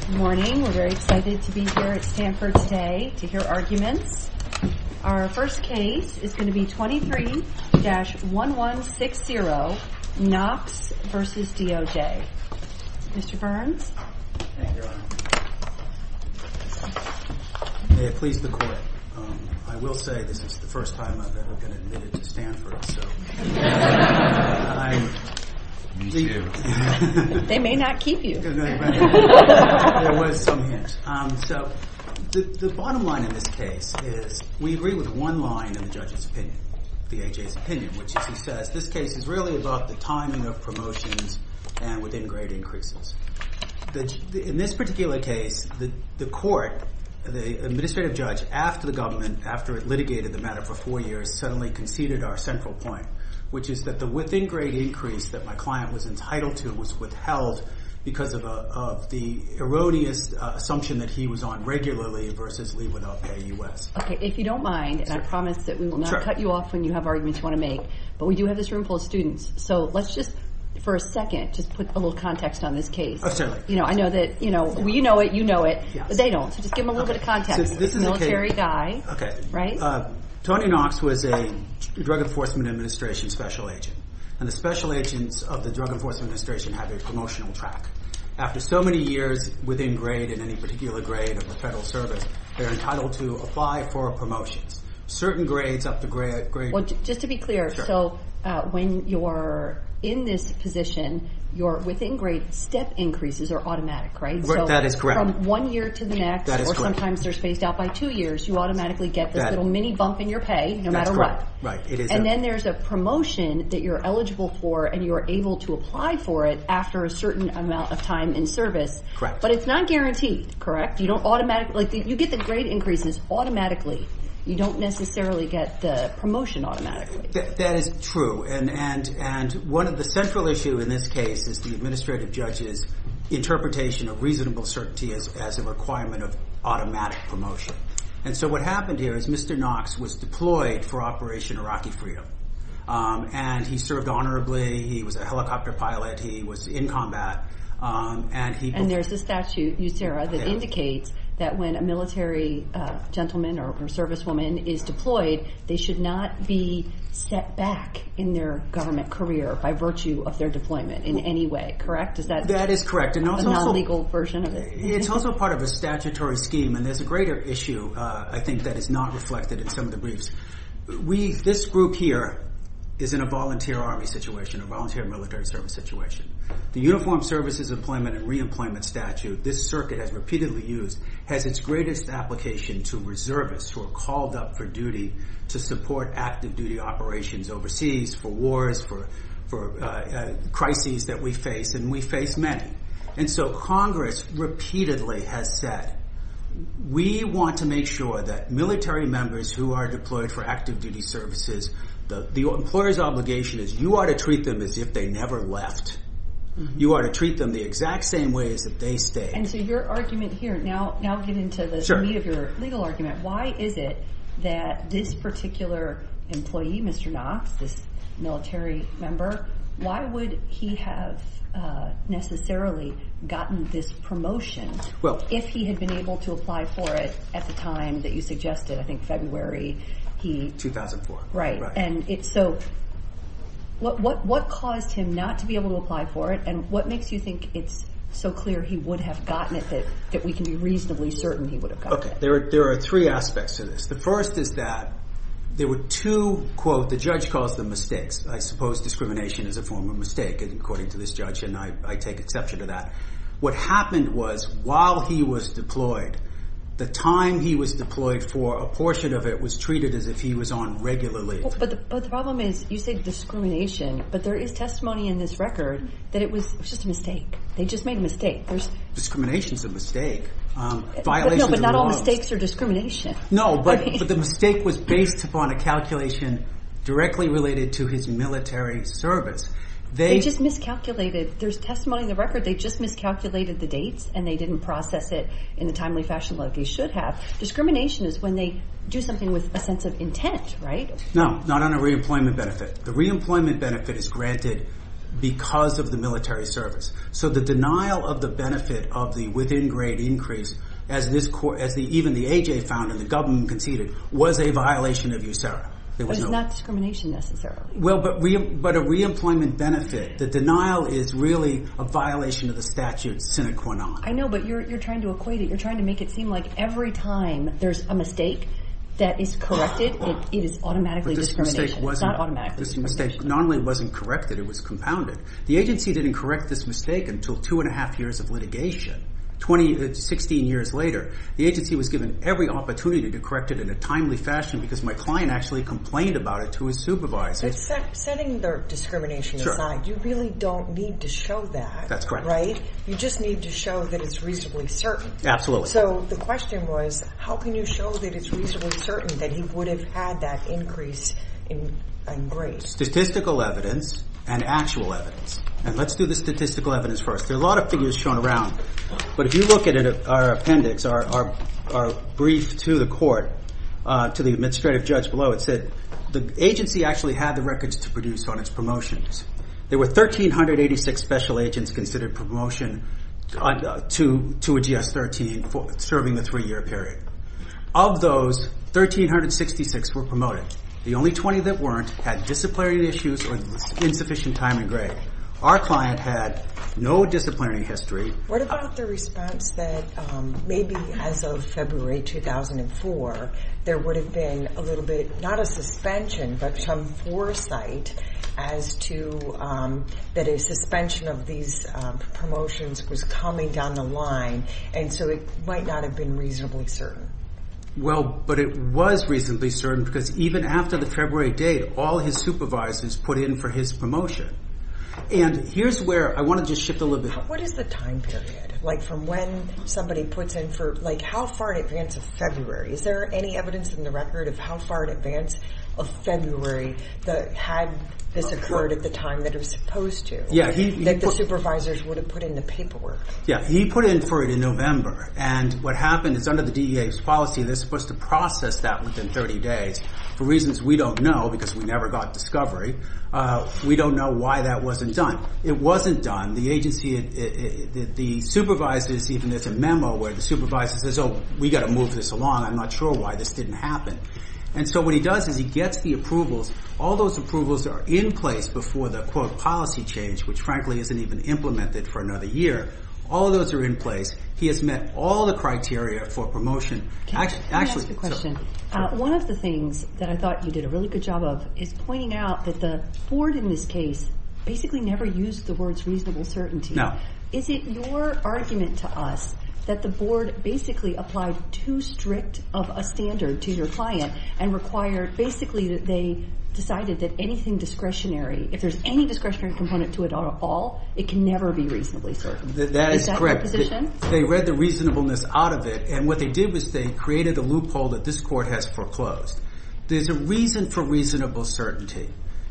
Good morning. We're very excited to be here at Stanford today to hear arguments. Our first case is going to be 23-1160, Knox v. DOJ. Mr. Burns? Thank you, Your Honor. May it please the Court, I will say this is the first time I've ever been admitted to Stanford, so. Me too. They may not keep you. There was some hint. So the bottom line in this case is we agree with one line in the judge's opinion, the AHA's opinion, which is he says this case is really about the timing of promotions and within grade increases. In this particular case, the court, the administrative judge, after the government, after it litigated the matter for four years, suddenly conceded our central point, which is that the within grade increase that my client was entitled to was withheld because of the erroneous assumption that he was on regularly versus leave without pay U.S. If you don't mind, and I promise that we will not cut you off when you have arguments you want to make, but we do have this room full of students, so let's just for a second just put a little context on this case. I know that you know it, you know it, but they don't. So just give them a little bit of context. Military guy, right? Tony Knox was a Drug Enforcement Administration special agent, and the special agents of the Drug Enforcement Administration have their promotional track. After so many years within grade in any particular grade of the federal service, they're entitled to apply for promotions. Certain grades up to grade. Well, just to be clear, so when you're in this position, your within grade step increases are automatic, right? That is correct. So from one year to the next, or sometimes they're spaced out by two years, you automatically get this little mini bump in your pay no matter what. And then there's a promotion that you're eligible for, and you're able to apply for it after a certain amount of time in service. Correct. But it's not guaranteed, correct? You get the grade increases automatically. You don't necessarily get the promotion automatically. That is true, and one of the central issues in this case is the administrative judge's interpretation of reasonable certainty as a requirement of automatic promotion. And so what happened here is Mr. Knox was deployed for Operation Iraqi Freedom, and he served honorably. He was a helicopter pilot. He was in combat. And there's a statute, USERRA, that indicates that when a military gentleman or servicewoman is deployed, they should not be set back in their government career by virtue of their deployment in any way, correct? That is correct. A non-legal version of it. It's also part of a statutory scheme, and there's a greater issue, I think, that is not reflected in some of the briefs. This group here is in a volunteer Army situation, a volunteer military service situation. The Uniformed Services Employment and Reemployment statute this circuit has repeatedly used has its greatest application to reservists who are called up for duty to support active duty operations overseas for wars, for crises that we face, and we face many. And so Congress repeatedly has said, we want to make sure that military members who are deployed for active duty services, the employer's obligation is you ought to treat them as if they never left. You ought to treat them the exact same way as if they stayed. And so your argument here, now getting to the meat of your legal argument, why is it that this particular employee, Mr. Knox, this military member, why would he have necessarily gotten this promotion if he had been able to apply for it at the time that you suggested? I think February he... Right. And so what caused him not to be able to apply for it, and what makes you think it's so clear he would have gotten it that we can be reasonably certain he would have gotten it? There are three aspects to this. The first is that there were two, quote, the judge calls them mistakes. I suppose discrimination is a form of mistake, according to this judge, and I take exception to that. What happened was while he was deployed, the time he was deployed for a portion of it was treated as if he was on regularly. But the problem is you say discrimination, but there is testimony in this record that it was just a mistake. They just made a mistake. Discrimination is a mistake. No, but not all mistakes are discrimination. No, but the mistake was based upon a calculation directly related to his military service. They just miscalculated. There's testimony in the record they just miscalculated the dates, and they didn't process it in a timely fashion like they should have. Discrimination is when they do something with a sense of intent, right? No, not on a reemployment benefit. The reemployment benefit is granted because of the military service. So the denial of the benefit of the within-grade increase, as even the A.J. found and the government conceded, was a violation of USERRA. It was not discrimination necessarily. Well, but a reemployment benefit, the denial is really a violation of the statute sine qua non. I know, but you're trying to equate it. You're trying to make it seem like every time there's a mistake that is corrected, it is automatically discrimination. It's not automatically discrimination. This mistake not only wasn't corrected, it was compounded. The agency didn't correct this mistake until two and a half years of litigation, 16 years later. The agency was given every opportunity to correct it in a timely fashion because my client actually complained about it to his supervisor. Setting the discrimination aside, you really don't need to show that. That's correct. Right? You just need to show that it's reasonably certain. Absolutely. So the question was, how can you show that it's reasonably certain that he would have had that increase in grades? Statistical evidence and actual evidence. And let's do the statistical evidence first. There are a lot of figures shown around, but if you look at our appendix, our brief to the court, to the administrative judge below, it said the agency actually had the records to produce on its promotions. There were 1,386 special agents considered promotion to a GS-13 serving the three-year period. Of those, 1,366 were promoted. The only 20 that weren't had disciplinary issues or insufficient time in grade. Our client had no disciplinary history. What about the response that maybe as of February 2004, there would have been a little bit, not a suspension, but some foresight as to that a suspension of these promotions was coming down the line, and so it might not have been reasonably certain. Well, but it was reasonably certain because even after the February date, all his supervisors put in for his promotion. And here's where I want to just shift a little bit. What is the time period, like from when somebody puts in for, like how far in advance of February? Is there any evidence in the record of how far in advance of February had this occurred at the time that it was supposed to, that the supervisors would have put in the paperwork? Yeah, he put in for it in November. And what happened is under the DEA's policy, they're supposed to process that within 30 days. For reasons we don't know, because we never got discovery, we don't know why that wasn't done. It wasn't done. The agency, the supervisors, even there's a memo where the supervisor says, oh, we've got to move this along. I'm not sure why this didn't happen. And so what he does is he gets the approvals. All those approvals are in place before the, quote, policy change, which frankly isn't even implemented for another year. All those are in place. He has met all the criteria for promotion. Can I ask you a question? One of the things that I thought you did a really good job of is pointing out that the board in this case basically never used the words reasonable certainty. No. Is it your argument to us that the board basically applied too strict of a standard to your client and required basically that they decided that anything discretionary, if there's any discretionary component to it at all, it can never be reasonably certain? That is correct. They read the reasonableness out of it, and what they did was they created a loophole that this court has foreclosed. There's a reason for reasonable certainty.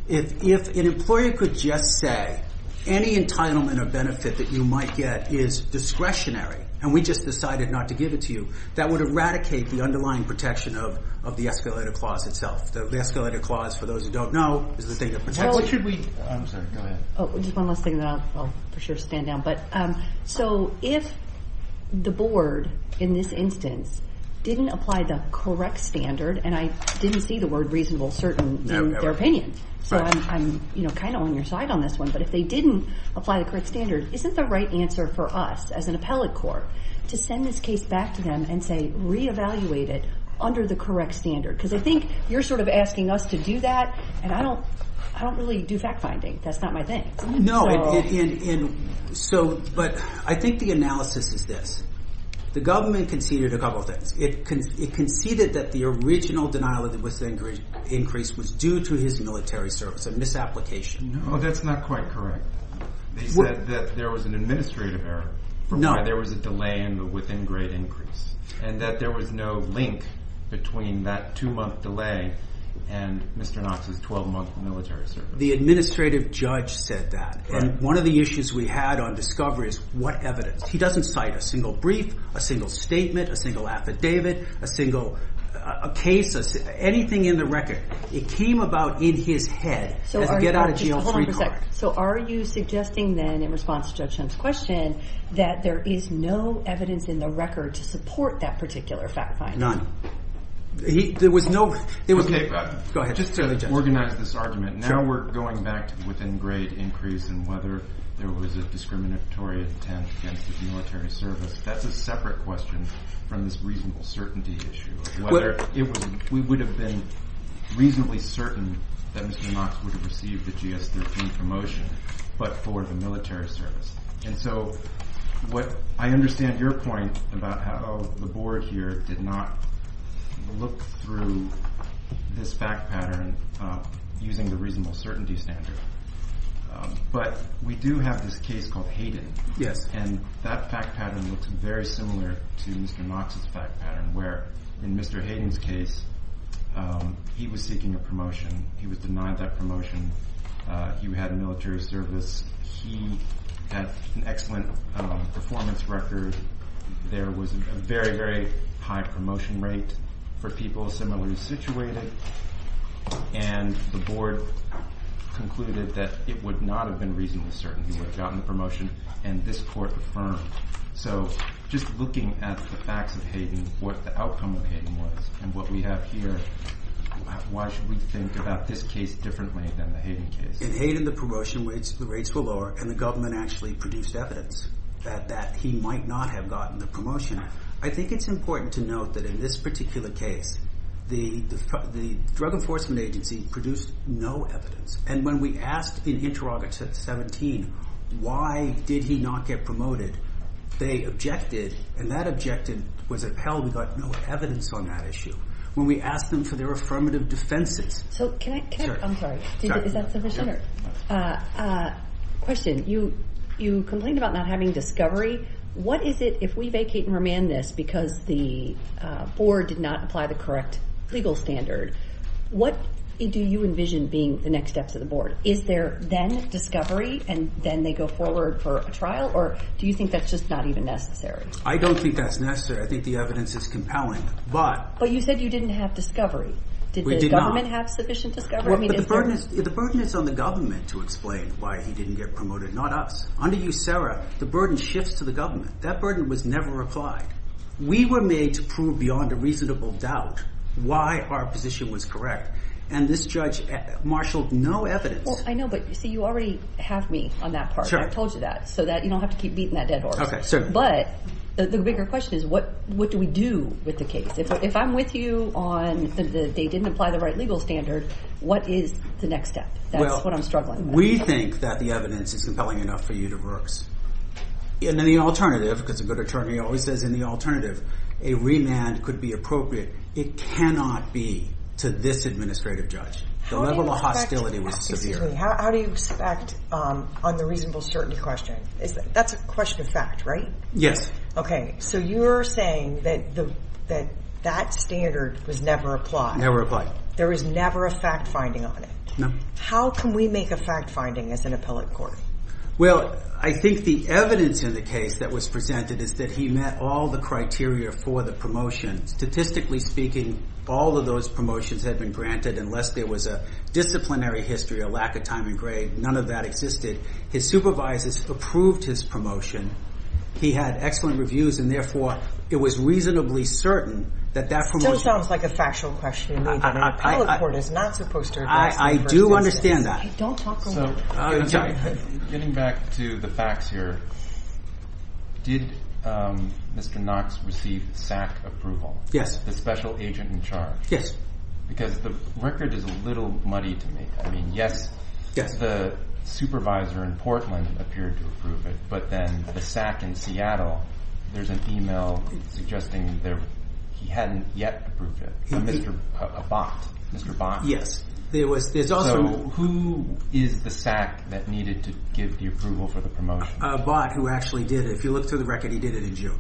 If an employer could just say any entitlement or benefit that you might get is discretionary and we just decided not to give it to you, that would eradicate the underlying protection of the escalator clause itself. The escalator clause, for those who don't know, is the thing that protects it. Well, what should we do? I'm sorry. Go ahead. Just one last thing, and then I'll for sure stand down. If the board in this instance didn't apply the correct standard, and I didn't see the word reasonable certainty in their opinion, so I'm kind of on your side on this one, but if they didn't apply the correct standard, isn't the right answer for us as an appellate court to send this case back to them and say re-evaluate it under the correct standard? Because I think you're sort of asking us to do that, and I don't really do fact finding. That's not my thing. No, but I think the analysis is this. The government conceded a couple of things. It conceded that the original denial of the within-grade increase was due to his military service, a misapplication. No, that's not quite correct. They said that there was an administrative error for why there was a delay in the within-grade increase, and that there was no link between that two-month delay and Mr. Knox's 12-month military service. The administrative judge said that, and one of the issues we had on discovery is what evidence. He doesn't cite a single brief, a single statement, a single affidavit, a single case, anything in the record. It came about in his head as a get-out-of-jail-free card. So are you suggesting then, in response to Judge Hunt's question, that there is no evidence in the record to support that particular fact finding? Go ahead. Just to organize this argument, now we're going back to the within-grade increase and whether there was a discriminatory attempt against his military service. That's a separate question from this reasonable certainty issue, whether we would have been reasonably certain that Mr. Knox would have received the GS-13 promotion, but for the military service. And so what I understand your point about how the Board here did not look through this fact pattern using the reasonable certainty standard, but we do have this case called Hayden. Yes. And that fact pattern looks very similar to Mr. Knox's fact pattern, where in Mr. Hayden's case, he was seeking a promotion. He was denied that promotion. He had a military service. He had an excellent performance record. There was a very, very high promotion rate for people similarly situated, and the Board concluded that it would not have been reasonable certainty he would have gotten the promotion, and this Court affirmed. So just looking at the facts of Hayden, what the outcome of Hayden was, and what we have here, why should we think about this case differently than the Hayden case? In Hayden, the promotion rates were lower, and the government actually produced evidence that he might not have gotten the promotion. I think it's important to note that in this particular case, the Drug Enforcement Agency produced no evidence, and when we asked in Interrogative 17 why did he not get promoted, they objected, and that objection was upheld. We got no evidence on that issue. When we asked them for their affirmative defenses. I'm sorry. Is that sufficient? Question. You complained about not having discovery. What is it if we vacate and remand this because the Board did not apply the correct legal standard, what do you envision being the next steps of the Board? Is there then discovery, and then they go forward for a trial, or do you think that's just not even necessary? I don't think that's necessary. I think the evidence is compelling. But you said you didn't have discovery. We did not. Did the government have sufficient discovery? The burden is on the government to explain why he didn't get promoted, not us. Under you, Sarah, the burden shifts to the government. That burden was never applied. We were made to prove beyond a reasonable doubt why our position was correct, and this judge marshaled no evidence. Well, I know, but, see, you already have me on that part. Sure. I told you that so that you don't have to keep beating that dead horse. Okay, certainly. But the bigger question is what do we do with the case? If I'm with you on they didn't apply the right legal standard, what is the next step? That's what I'm struggling with. Well, we think that the evidence is compelling enough for you to work. And then the alternative, because a good attorney always says in the alternative, a remand could be appropriate. It cannot be to this administrative judge. The level of hostility was severe. How do you expect on the reasonable certainty question? That's a question of fact, right? Yes. Okay, so you're saying that that standard was never applied. There was never a fact finding on it. No. How can we make a fact finding as an appellate court? Well, I think the evidence in the case that was presented is that he met all the criteria for the promotion. Statistically speaking, all of those promotions had been granted, unless there was a disciplinary history, a lack of time and grade. None of that existed. His supervisors approved his promotion. He had excellent reviews, and, therefore, it was reasonably certain that that promotion. It still sounds like a factual question to me. An appellate court is not supposed to address that. I do understand that. Don't talk over me. Getting back to the facts here, did Mr. Knox receive SAC approval? Yes. The special agent in charge. Yes. Because the record is a little muddy to me. I mean, yes, the supervisor in Portland appeared to approve it. But then the SAC in Seattle, there's an email suggesting that he hadn't yet approved it. A bot. Mr. Bot. Yes. So who is the SAC that needed to give the approval for the promotion? A bot who actually did it. If you look through the record, he did it in June.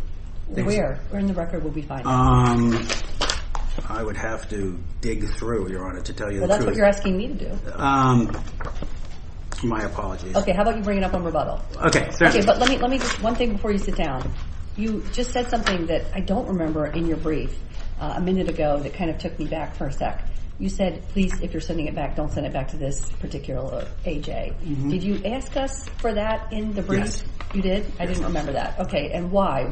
Where? We're in the record. We'll be fine. I would have to dig through, Your Honor, to tell you the truth. Well, that's what you're asking me to do. My apologies. Okay. How about you bring it up on rebuttal? But let me just, one thing before you sit down. You just said something that I don't remember in your brief a minute ago that kind of took me back for a sec. You said, please, if you're sending it back, don't send it back to this particular AJ. Did you ask us for that in the brief? Yes. You did? I didn't remember that. Okay. And why?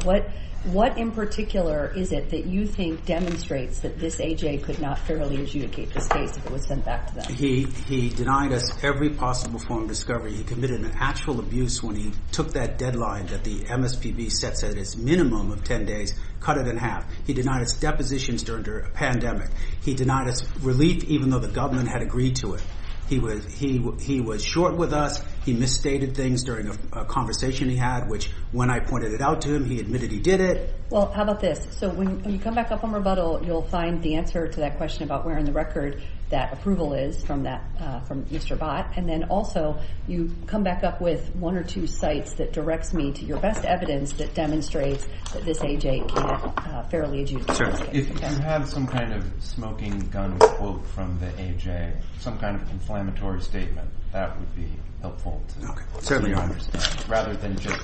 What in particular is it that you think demonstrates that this AJ could not fairly adjudicate this case if it was sent back to them? He denied us every possible form of discovery. He committed an actual abuse when he took that deadline that the MSPB sets at its minimum of 10 days, cut it in half. He denied us depositions during a pandemic. He denied us relief even though the government had agreed to it. He was short with us. He misstated things during a conversation he had, which when I pointed it out to him, he admitted he did it. Well, how about this? So when you come back up on rebuttal, you'll find the answer to that question about where in the record that approval is from Mr. Bott. And then also you come back up with one or two sites that directs me to your best evidence that demonstrates that this AJ can't fairly adjudicate this case. If you have some kind of smoking gun quote from the AJ, some kind of inflammatory statement, that would be helpful to hear. Rather than just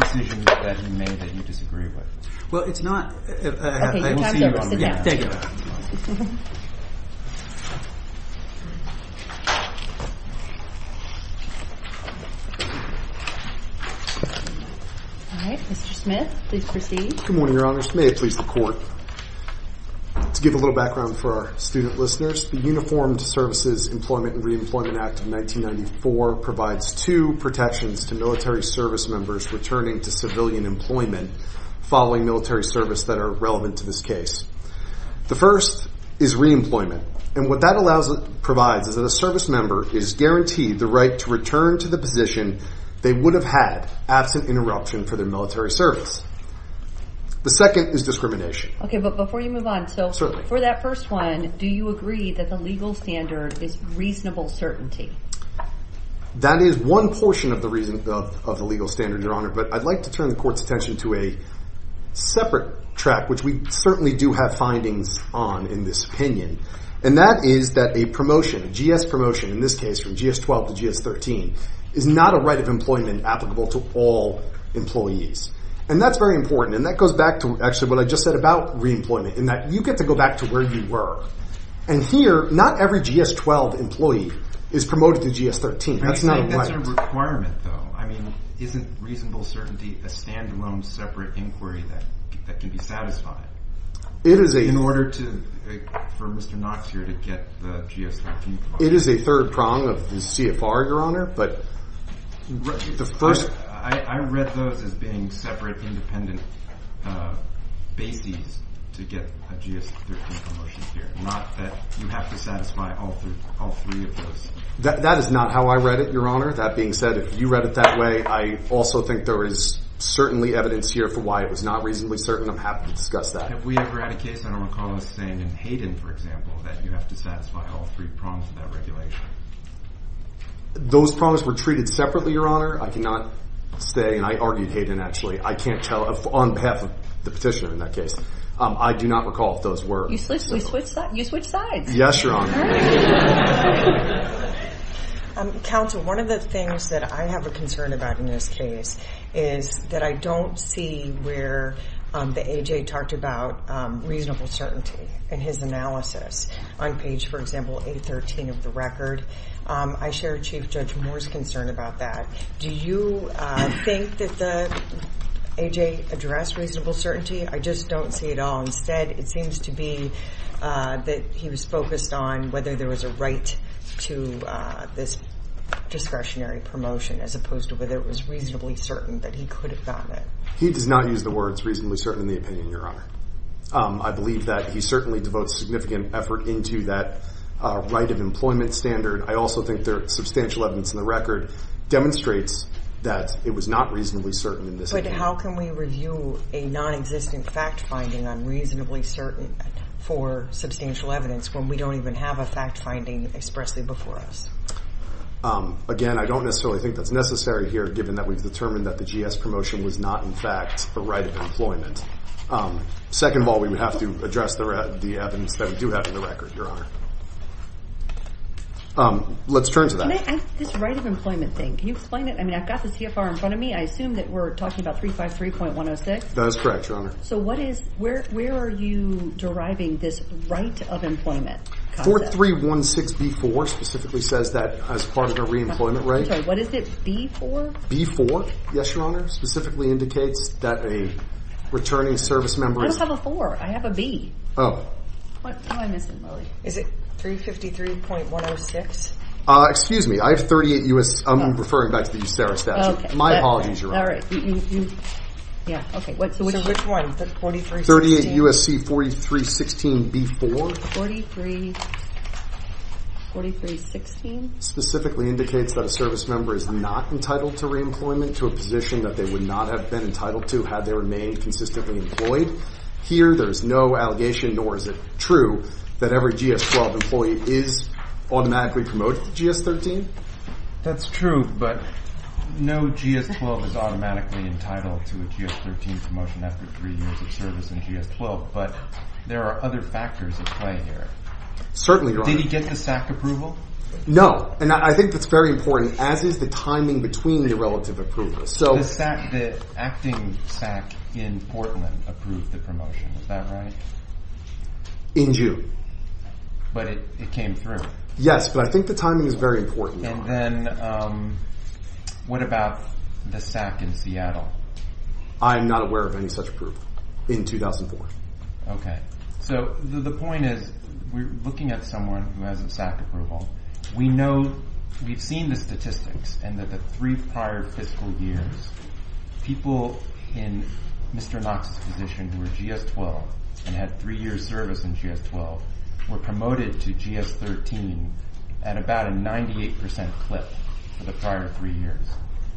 decisions that he made that you disagree with. Well, it's not – Okay. Your time is over. Sit down. Thank you. All right. Mr. Smith, please proceed. Good morning, Your Honor. May it please the Court. To give a little background for our student listeners, the Uniformed Services Employment and Reemployment Act of 1994 provides two protections to military service members returning to civilian employment following military service that are relevant to this case. The first is reemployment. And what that provides is that a service member is guaranteed the right to return to the position they would have had absent interruption for their military service. The second is discrimination. Okay. But before you move on – Certainly. For that first one, do you agree that the legal standard is reasonable certainty? That is one portion of the legal standard, Your Honor. But I'd like to turn the Court's attention to a separate track, which we certainly do have findings on in this opinion. And that is that a promotion, a GS promotion in this case, from GS-12 to GS-13, is not a right of employment applicable to all employees. And that's very important. And that goes back to actually what I just said about reemployment, in that you get to go back to where you were. And here, not every GS-12 employee is promoted to GS-13. That's not right. That's a requirement, though. I mean, isn't reasonable certainty a standalone separate inquiry that can be satisfied? In order for Mr. Knox here to get the GS-13 promotion. It is a third prong of the CFR, Your Honor. But the first – I read those as being separate independent bases to get a GS-13 promotion here, not that you have to satisfy all three of those. That is not how I read it, Your Honor. That being said, if you read it that way, I also think there is certainly evidence here for why it was not reasonably certain. I'm happy to discuss that. Have we ever had a case, I don't recall us saying in Hayden, for example, that you have to satisfy all three prongs of that regulation? Those prongs were treated separately, Your Honor. I cannot say – and I argued Hayden, actually. I can't tell on behalf of the petitioner in that case. I do not recall if those were. You switched sides. Yes, Your Honor. Counsel, one of the things that I have a concern about in this case is that I don't see where the AJ talked about reasonable certainty in his analysis. On page, for example, 813 of the record, I share Chief Judge Moore's concern about that. Do you think that the AJ addressed reasonable certainty? I just don't see it all. Instead, it seems to be that he was focused on whether there was a right to this discretionary promotion, as opposed to whether it was reasonably certain that he could have gotten it. He does not use the words reasonably certain in the opinion, Your Honor. I believe that he certainly devotes significant effort into that right of employment standard. I also think there is substantial evidence in the record demonstrates that it was not reasonably certain in this opinion. But how can we review a nonexistent fact finding on reasonably certain for substantial evidence when we don't even have a fact finding expressly before us? Again, I don't necessarily think that's necessary here, given that we've determined that the GS promotion was not, in fact, a right of employment. Second of all, we would have to address the evidence that we do have in the record, Your Honor. Let's turn to that. Can I ask this right of employment thing? Can you explain it? I mean, I've got the CFR in front of me. I assume that we're talking about 353.106? That is correct, Your Honor. So where are you deriving this right of employment concept? 4316B4 specifically says that as part of a reemployment rate. I'm sorry. What is it? B4? B4, yes, Your Honor, specifically indicates that a returning service member is I don't have a 4. I have a B. Oh. What am I missing, really? Is it 353.106? Excuse me. I have 38 U.S. I'm referring back to the USARA statute. My apologies, Your Honor. All right. Yeah. Okay. So which one? The 4316? 38 U.S.C. 4316B4. 4316? Specifically indicates that a service member is not entitled to reemployment to a position that they would not have been entitled to had they remained consistently employed. Here, there is no allegation, nor is it true, that every GS-12 employee is automatically promoted to GS-13? That's true, but no GS-12 is automatically entitled to a GS-13 promotion after 3 years of service in GS-12, but there are other factors at play here. Certainly, Your Honor. Did he get the SAC approval? No. And I think that's very important, as is the timing between the relative approvals. So The SAC, the acting SAC in Portland approved the promotion. Is that right? In June. But it came through. Yes, but I think the timing is very important, Your Honor. And then what about the SAC in Seattle? I am not aware of any such approval in 2004. Okay. So the point is, we're looking at someone who has a SAC approval. We know, we've seen the statistics, and that the three prior fiscal years, people in Mr. Knox's position who were GS-12 and had 3 years service in GS-12 were promoted to GS-13 at about a 98% clip for the prior 3 years.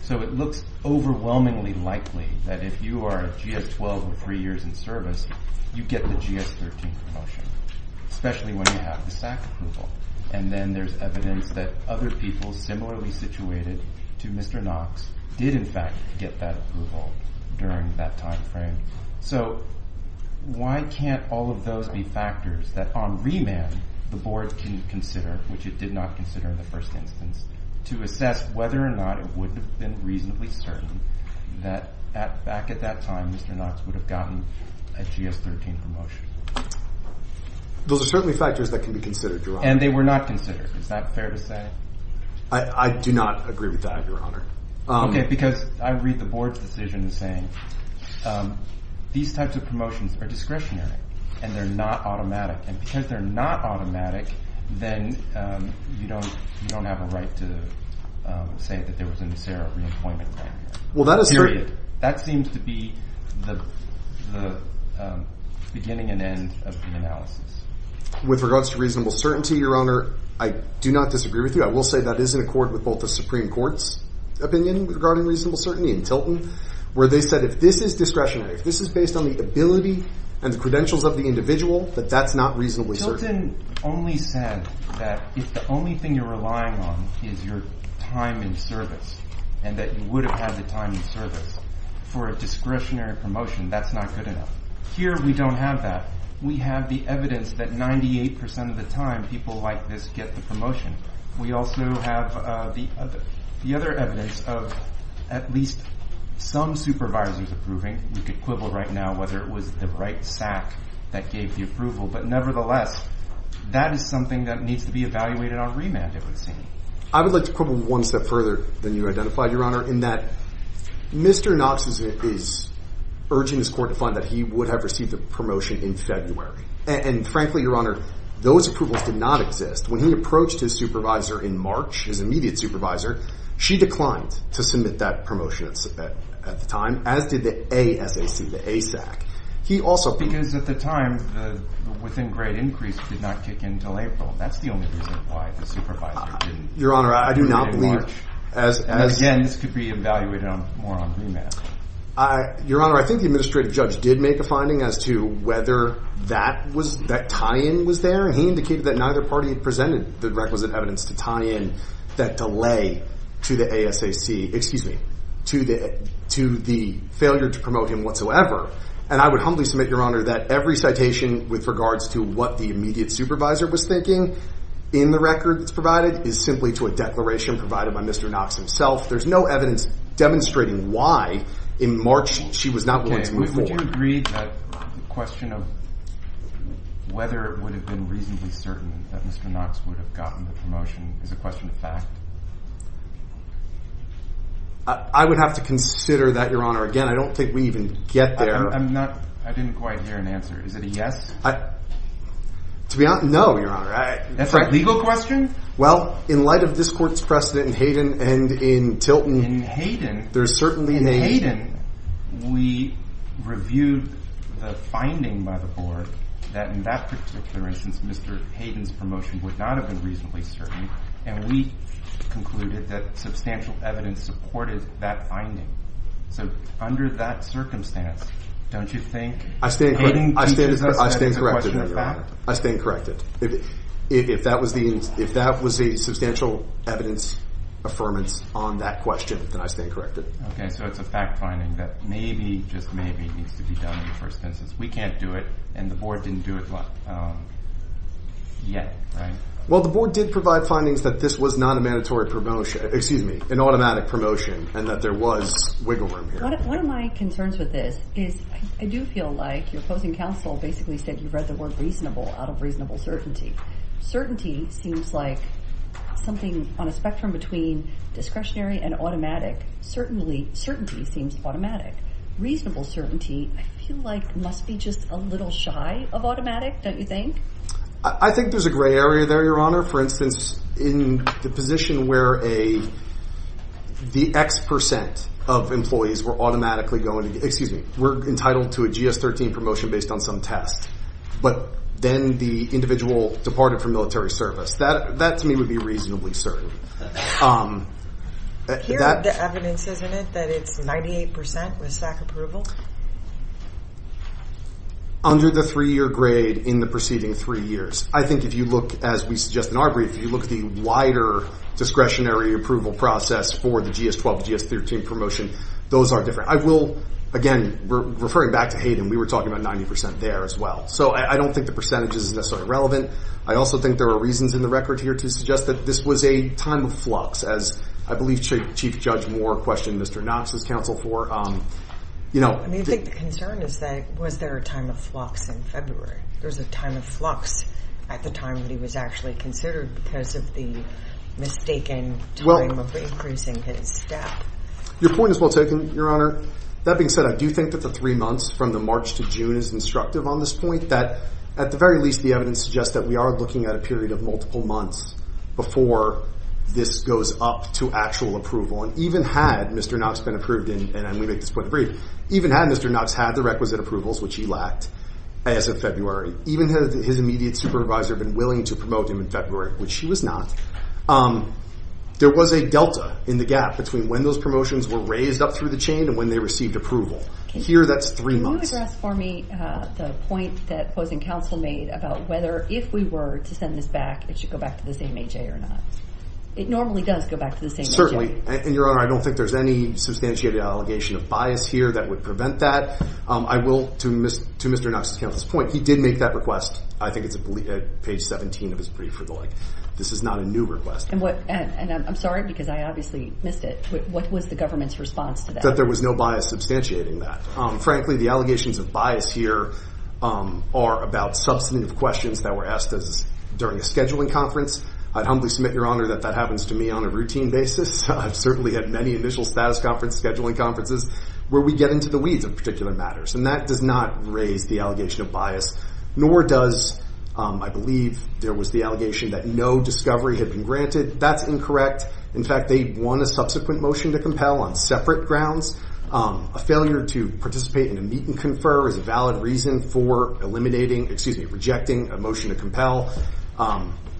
So it looks overwhelmingly likely that if you are a GS-12 with 3 years in service, you get the GS-13 promotion, especially when you have the SAC approval. And then there's evidence that other people similarly situated to Mr. Knox did, in fact, get that approval during that time frame. So why can't all of those be factors that on remand the Board can consider, which it did not consider in the first instance, to assess whether or not it would have been reasonably certain that back at that time Mr. Knox would have gotten a GS-13 promotion? Those are certainly factors that can be considered, Your Honor. And they were not considered. Is that fair to say? I do not agree with that, Your Honor. Okay. Because I read the Board's decision saying these types of promotions are discretionary and they're not automatic. And because they're not automatic, then you don't have a right to say that there was a NACERA re-employment plan here. Well, that is certain. That seems to be the beginning and end of the analysis. With regards to reasonable certainty, Your Honor, I do not disagree with you. I will say that is in accord with both the Supreme Court's opinion regarding reasonable certainty and Tilton, where they said if this is discretionary, if this is based on the ability and the credentials of the individual, that that's not reasonably certain. Tilton only said that if the only thing you're relying on is your time in service and that you would have had the time in service, for a discretionary promotion, that's not good enough. Here we don't have that. We have the evidence that 98 percent of the time people like this get the promotion. We also have the other evidence of at least some supervisors approving. We could quibble right now whether it was the right SAC that gave the approval. But nevertheless, that is something that needs to be evaluated on remand, it would seem. I would like to quibble one step further than you identified, Your Honor, in that Mr. Knox is urging his court to find that he would have received the promotion in February. And frankly, Your Honor, those approvals did not exist. When he approached his supervisor in March, his immediate supervisor, she declined to submit that promotion at the time, as did the ASAC, the ASAC. Because at the time, the within grade increase did not kick in until April. That's the only reason why the supervisor didn't. Your Honor, I do not believe. Again, this could be evaluated more on remand. Your Honor, I think the administrative judge did make a finding as to whether that tie-in was there. And he indicated that neither party presented the requisite evidence to tie in that delay to the ASAC. Excuse me, to the failure to promote him whatsoever. And I would humbly submit, Your Honor, that every citation with regards to what the immediate supervisor was thinking in the record that's provided is simply to a declaration provided by Mr. Knox himself. There's no evidence demonstrating why in March she was not willing to move forward. I would agree that the question of whether it would have been reasonably certain that Mr. Knox would have gotten the promotion is a question of fact. I would have to consider that, Your Honor. Again, I don't think we even get there. I didn't quite hear an answer. Is it a yes? To be honest, no, Your Honor. That's a legal question? Well, in light of this court's precedent in Hayden and in Tilton. In Hayden? In Hayden, we reviewed the finding by the board that in that particular instance, Mr. Hayden's promotion would not have been reasonably certain. And we concluded that substantial evidence supported that finding. So under that circumstance, don't you think Hayden teaches us that it's a question of fact? I stand corrected, Your Honor. If that was the substantial evidence affirmance on that question, then I stand corrected. Okay. So it's a fact finding that maybe, just maybe, needs to be done in the first instance. We can't do it, and the board didn't do it yet, right? Well, the board did provide findings that this was not a mandatory promotion, excuse me, an automatic promotion, and that there was wiggle room here. One of my concerns with this is I do feel like your opposing counsel basically said you read the word reasonable out of reasonable certainty. Certainty seems like something on a spectrum between discretionary and automatic. Certainly, certainty seems automatic. Reasonable certainty I feel like must be just a little shy of automatic, don't you think? I think there's a gray area there, Your Honor. Your Honor, for instance, in the position where the X percent of employees were automatically going to, excuse me, were entitled to a GS-13 promotion based on some test, but then the individual departed from military service. That, to me, would be reasonably certain. Here is the evidence, isn't it, that it's 98 percent with SAC approval? Under the three-year grade in the preceding three years. I think if you look, as we suggest in our brief, if you look at the wider discretionary approval process for the GS-12, GS-13 promotion, those are different. I will, again, referring back to Hayden, we were talking about 90 percent there as well. So I don't think the percentage is necessarily relevant. I also think there are reasons in the record here to suggest that this was a time of flux, as I believe Chief Judge Moore questioned Mr. Knox's counsel for. I think the concern is that was there a time of flux in February? There was a time of flux at the time that he was actually considered because of the mistaken time of increasing his staff. Your point is well taken, Your Honor. That being said, I do think that the three months from the March to June is instructive on this point. That, at the very least, the evidence suggests that we are looking at a period of multiple months before this goes up to actual approval. And even had Mr. Knox been approved, and we make this point in the brief, even had Mr. Knox had the requisite approvals, which he lacked as of February, even had his immediate supervisor been willing to promote him in February, which he was not, there was a delta in the gap between when those promotions were raised up through the chain and when they received approval. Here, that's three months. Can you address for me the point that opposing counsel made about whether, if we were to send this back, it should go back to the same AJ or not? It normally does go back to the same AJ. Certainly. And, Your Honor, I don't think there's any substantiated allegation of bias here that would prevent that. I will, to Mr. Knox's counsel's point, he did make that request. I think it's page 17 of his brief or the like. This is not a new request. And I'm sorry because I obviously missed it. What was the government's response to that? That there was no bias substantiating that. Frankly, the allegations of bias here are about substantive questions that were asked during a scheduling conference. I'd humbly submit, Your Honor, that that happens to me on a routine basis. I've certainly had many initial status conference scheduling conferences where we get into the weeds of particular matters. And that does not raise the allegation of bias. Nor does, I believe, there was the allegation that no discovery had been granted. That's incorrect. In fact, they won a subsequent motion to compel on separate grounds. A failure to participate in a meet and confer is a valid reason for eliminating, excuse me, rejecting a motion to compel.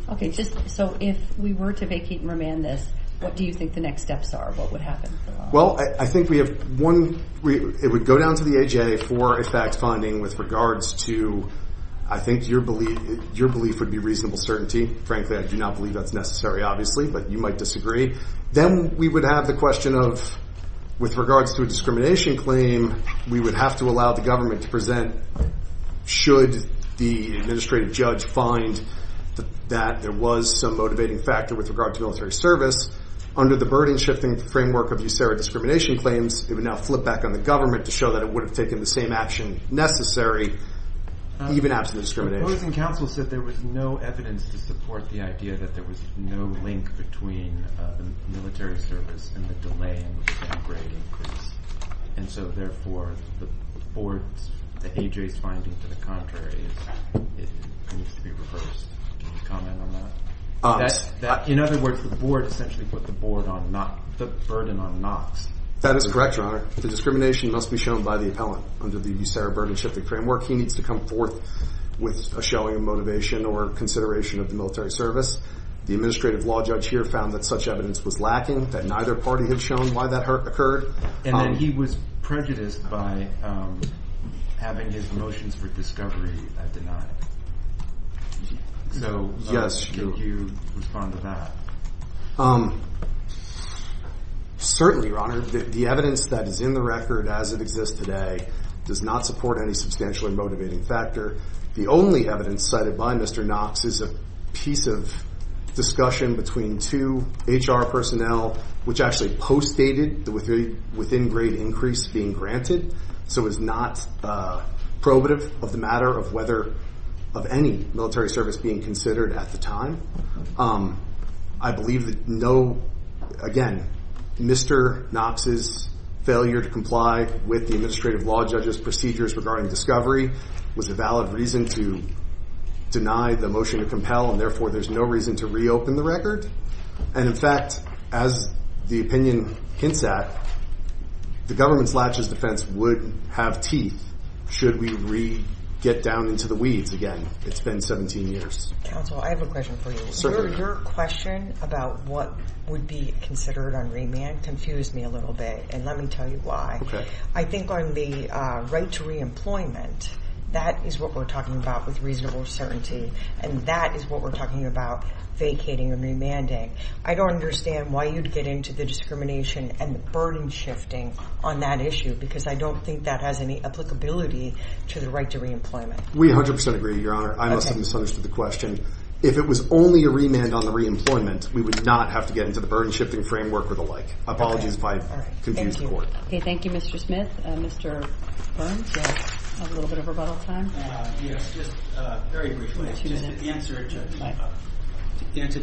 Okay, so if we were to vacate and remand this, what do you think the next steps are? What would happen? Well, I think we have one, it would go down to the AJA for a fact finding with regards to, I think your belief would be reasonable certainty. Frankly, I do not believe that's necessary, obviously, but you might disagree. Then we would have the question of, with regards to a discrimination claim, we would have to allow the government to present, should the administrative judge find that there was some motivating factor with regard to military service. Under the burden-shifting framework of USARA discrimination claims, it would now flip back on the government to show that it would have taken the same action necessary, even after the discrimination. The opposing counsel said there was no evidence to support the idea that there was no link between the military service and the delay in grade increase. And so, therefore, the board's, the AJA's finding to the contrary is it needs to be reversed. Can you comment on that? In other words, the board essentially put the board on, the burden on Knox. That is correct, Your Honor. The discrimination must be shown by the appellant. Under the USARA burden-shifting framework, he needs to come forth with a showing of motivation or consideration of the military service. The administrative law judge here found that such evidence was lacking, that neither party had shown why that occurred. And then he was prejudiced by having his motions for discovery denied. So, how would you respond to that? Certainly, Your Honor, the evidence that is in the record as it exists today does not support any substantial or motivating factor. The only evidence cited by Mr. Knox is a piece of discussion between two HR personnel, which actually postdated the within-grade increase being granted, so it's not prohibitive of the matter of whether, of any military service being considered at the time. I believe that, again, Mr. Knox's failure to comply with the administrative law judge's procedures regarding discovery was a valid reason to deny the motion to compel, and therefore there's no reason to reopen the record. And, in fact, as the opinion hints at, the government's latches defense would have teeth should we get down into the weeds again. It's been 17 years. Counsel, I have a question for you. Your question about what would be considered on remand confused me a little bit, and let me tell you why. Okay. I think on the right to reemployment, that is what we're talking about with reasonable certainty, and that is what we're talking about vacating and remanding. I don't understand why you'd get into the discrimination and the burden shifting on that issue, because I don't think that has any applicability to the right to reemployment. We 100 percent agree, Your Honor. I must have misunderstood the question. If it was only a remand on the reemployment, we would not have to get into the burden shifting framework or the like. Apologies if I confused the Court. Okay. Thank you, Mr. Smith. Mr. Burns, you have a little bit of rebuttal time. Yes. Just very briefly, just to answer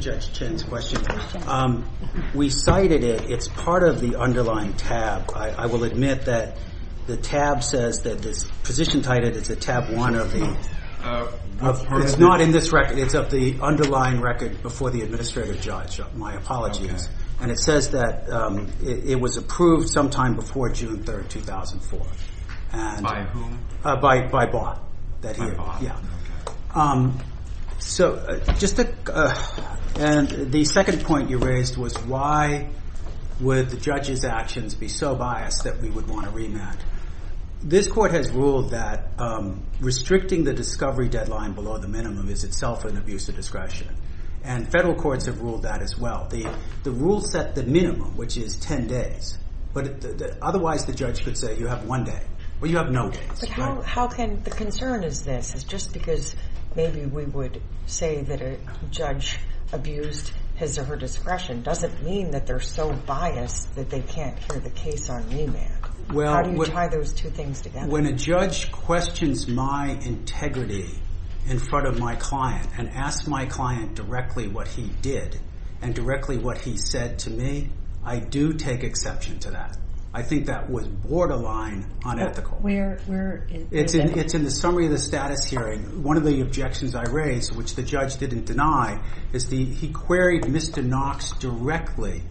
Judge Chen's question, we cited it. It's part of the underlying tab. I will admit that the tab says that this position cited is a tab one of the underlying record before the administrative judge. My apologies. And it says that it was approved sometime before June 3, 2004. By whom? By Baugh. And the second point you raised was why would the judge's actions be so biased that we would want a remand? This Court has ruled that restricting the discovery deadline below the minimum is itself an abuse of discretion, and federal courts have ruled that as well. The rule set the minimum, which is 10 days, but otherwise the judge could say you have one day. Well, you have no days. The concern is this, is just because maybe we would say that a judge abused his or her discretion doesn't mean that they're so biased that they can't hear the case on remand. How do you tie those two things together? When a judge questions my integrity in front of my client and asks my client directly what he did and directly what he said to me, I do take exception to that. I think that was borderline unethical. Where is that? It's in the summary of the status hearing. One of the objections I raised, which the judge didn't deny, is he queried Mr. Knox directly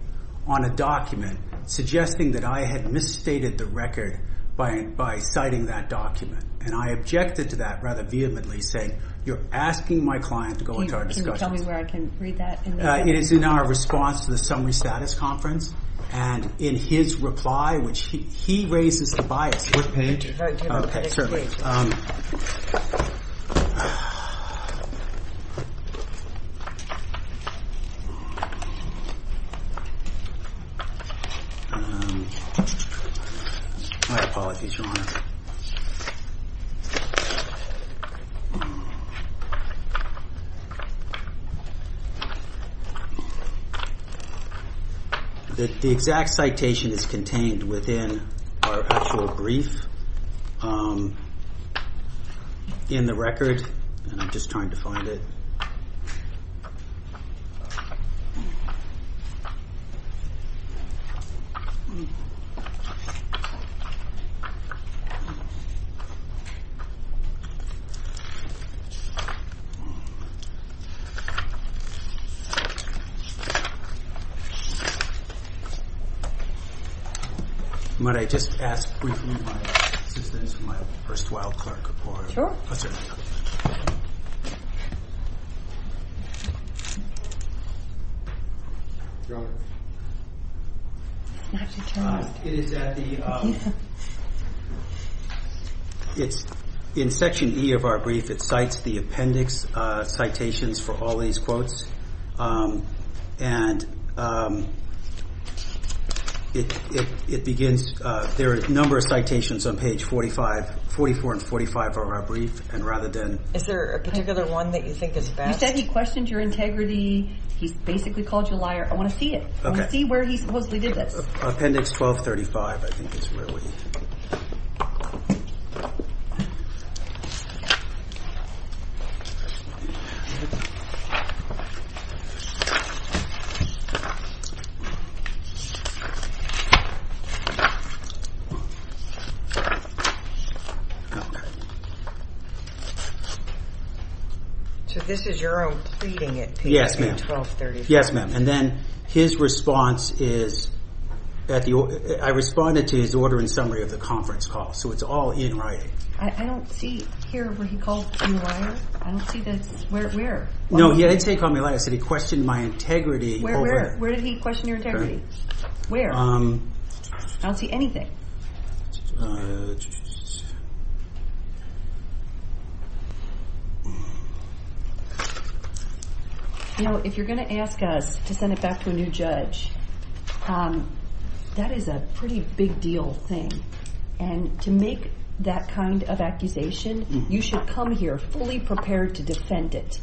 on a document suggesting that I had misstated the record by citing that document. And I objected to that rather vehemently, saying you're asking my client to go into our discussions. Can you tell me where I can read that? It is in our response to the summary status conference. And in his reply, which he raises the bias. What page? Do you have a page for me? Okay, certainly. My apologies, Your Honor. The exact citation is contained within our actual brief in the record. And I'm just trying to find it. Might I just ask briefly my assistance from my first wild card report? Sure. Oh, certainly. Your Honor. You don't have to tell me. It's in section E of our brief. It cites the appendix citations for all these quotes. There are a number of citations on page 44 and 45 of our brief. Is there a particular one that you think is best? You said he questioned your integrity. He basically called you a liar. I want to see it. I want to see where he supposedly did this. Appendix 1235, I think, is where we... So this is your own pleading at 1235? Yes, ma'am. Yes, ma'am. And then his response is... I responded to his order in summary of the conference call. So it's all in writing. I don't see here where he called you a liar. I don't see this. Where? No, he didn't say he called me a liar. He said he questioned my integrity. Where did he question your integrity? Where? I don't see anything. Judge... You know, if you're going to ask us to send it back to a new judge, that is a pretty big deal thing. And to make that kind of accusation, you should come here fully prepared to defend it.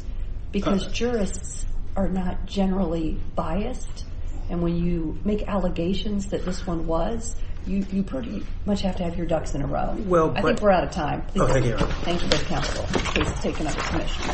Because jurists are not generally biased. And when you make allegations that this one was, you pretty much have to have your ducks in a row. Well, but... I think we're out of time. Oh, thank you, Your Honor. Thank you, Judge Counsel. Please take another commission.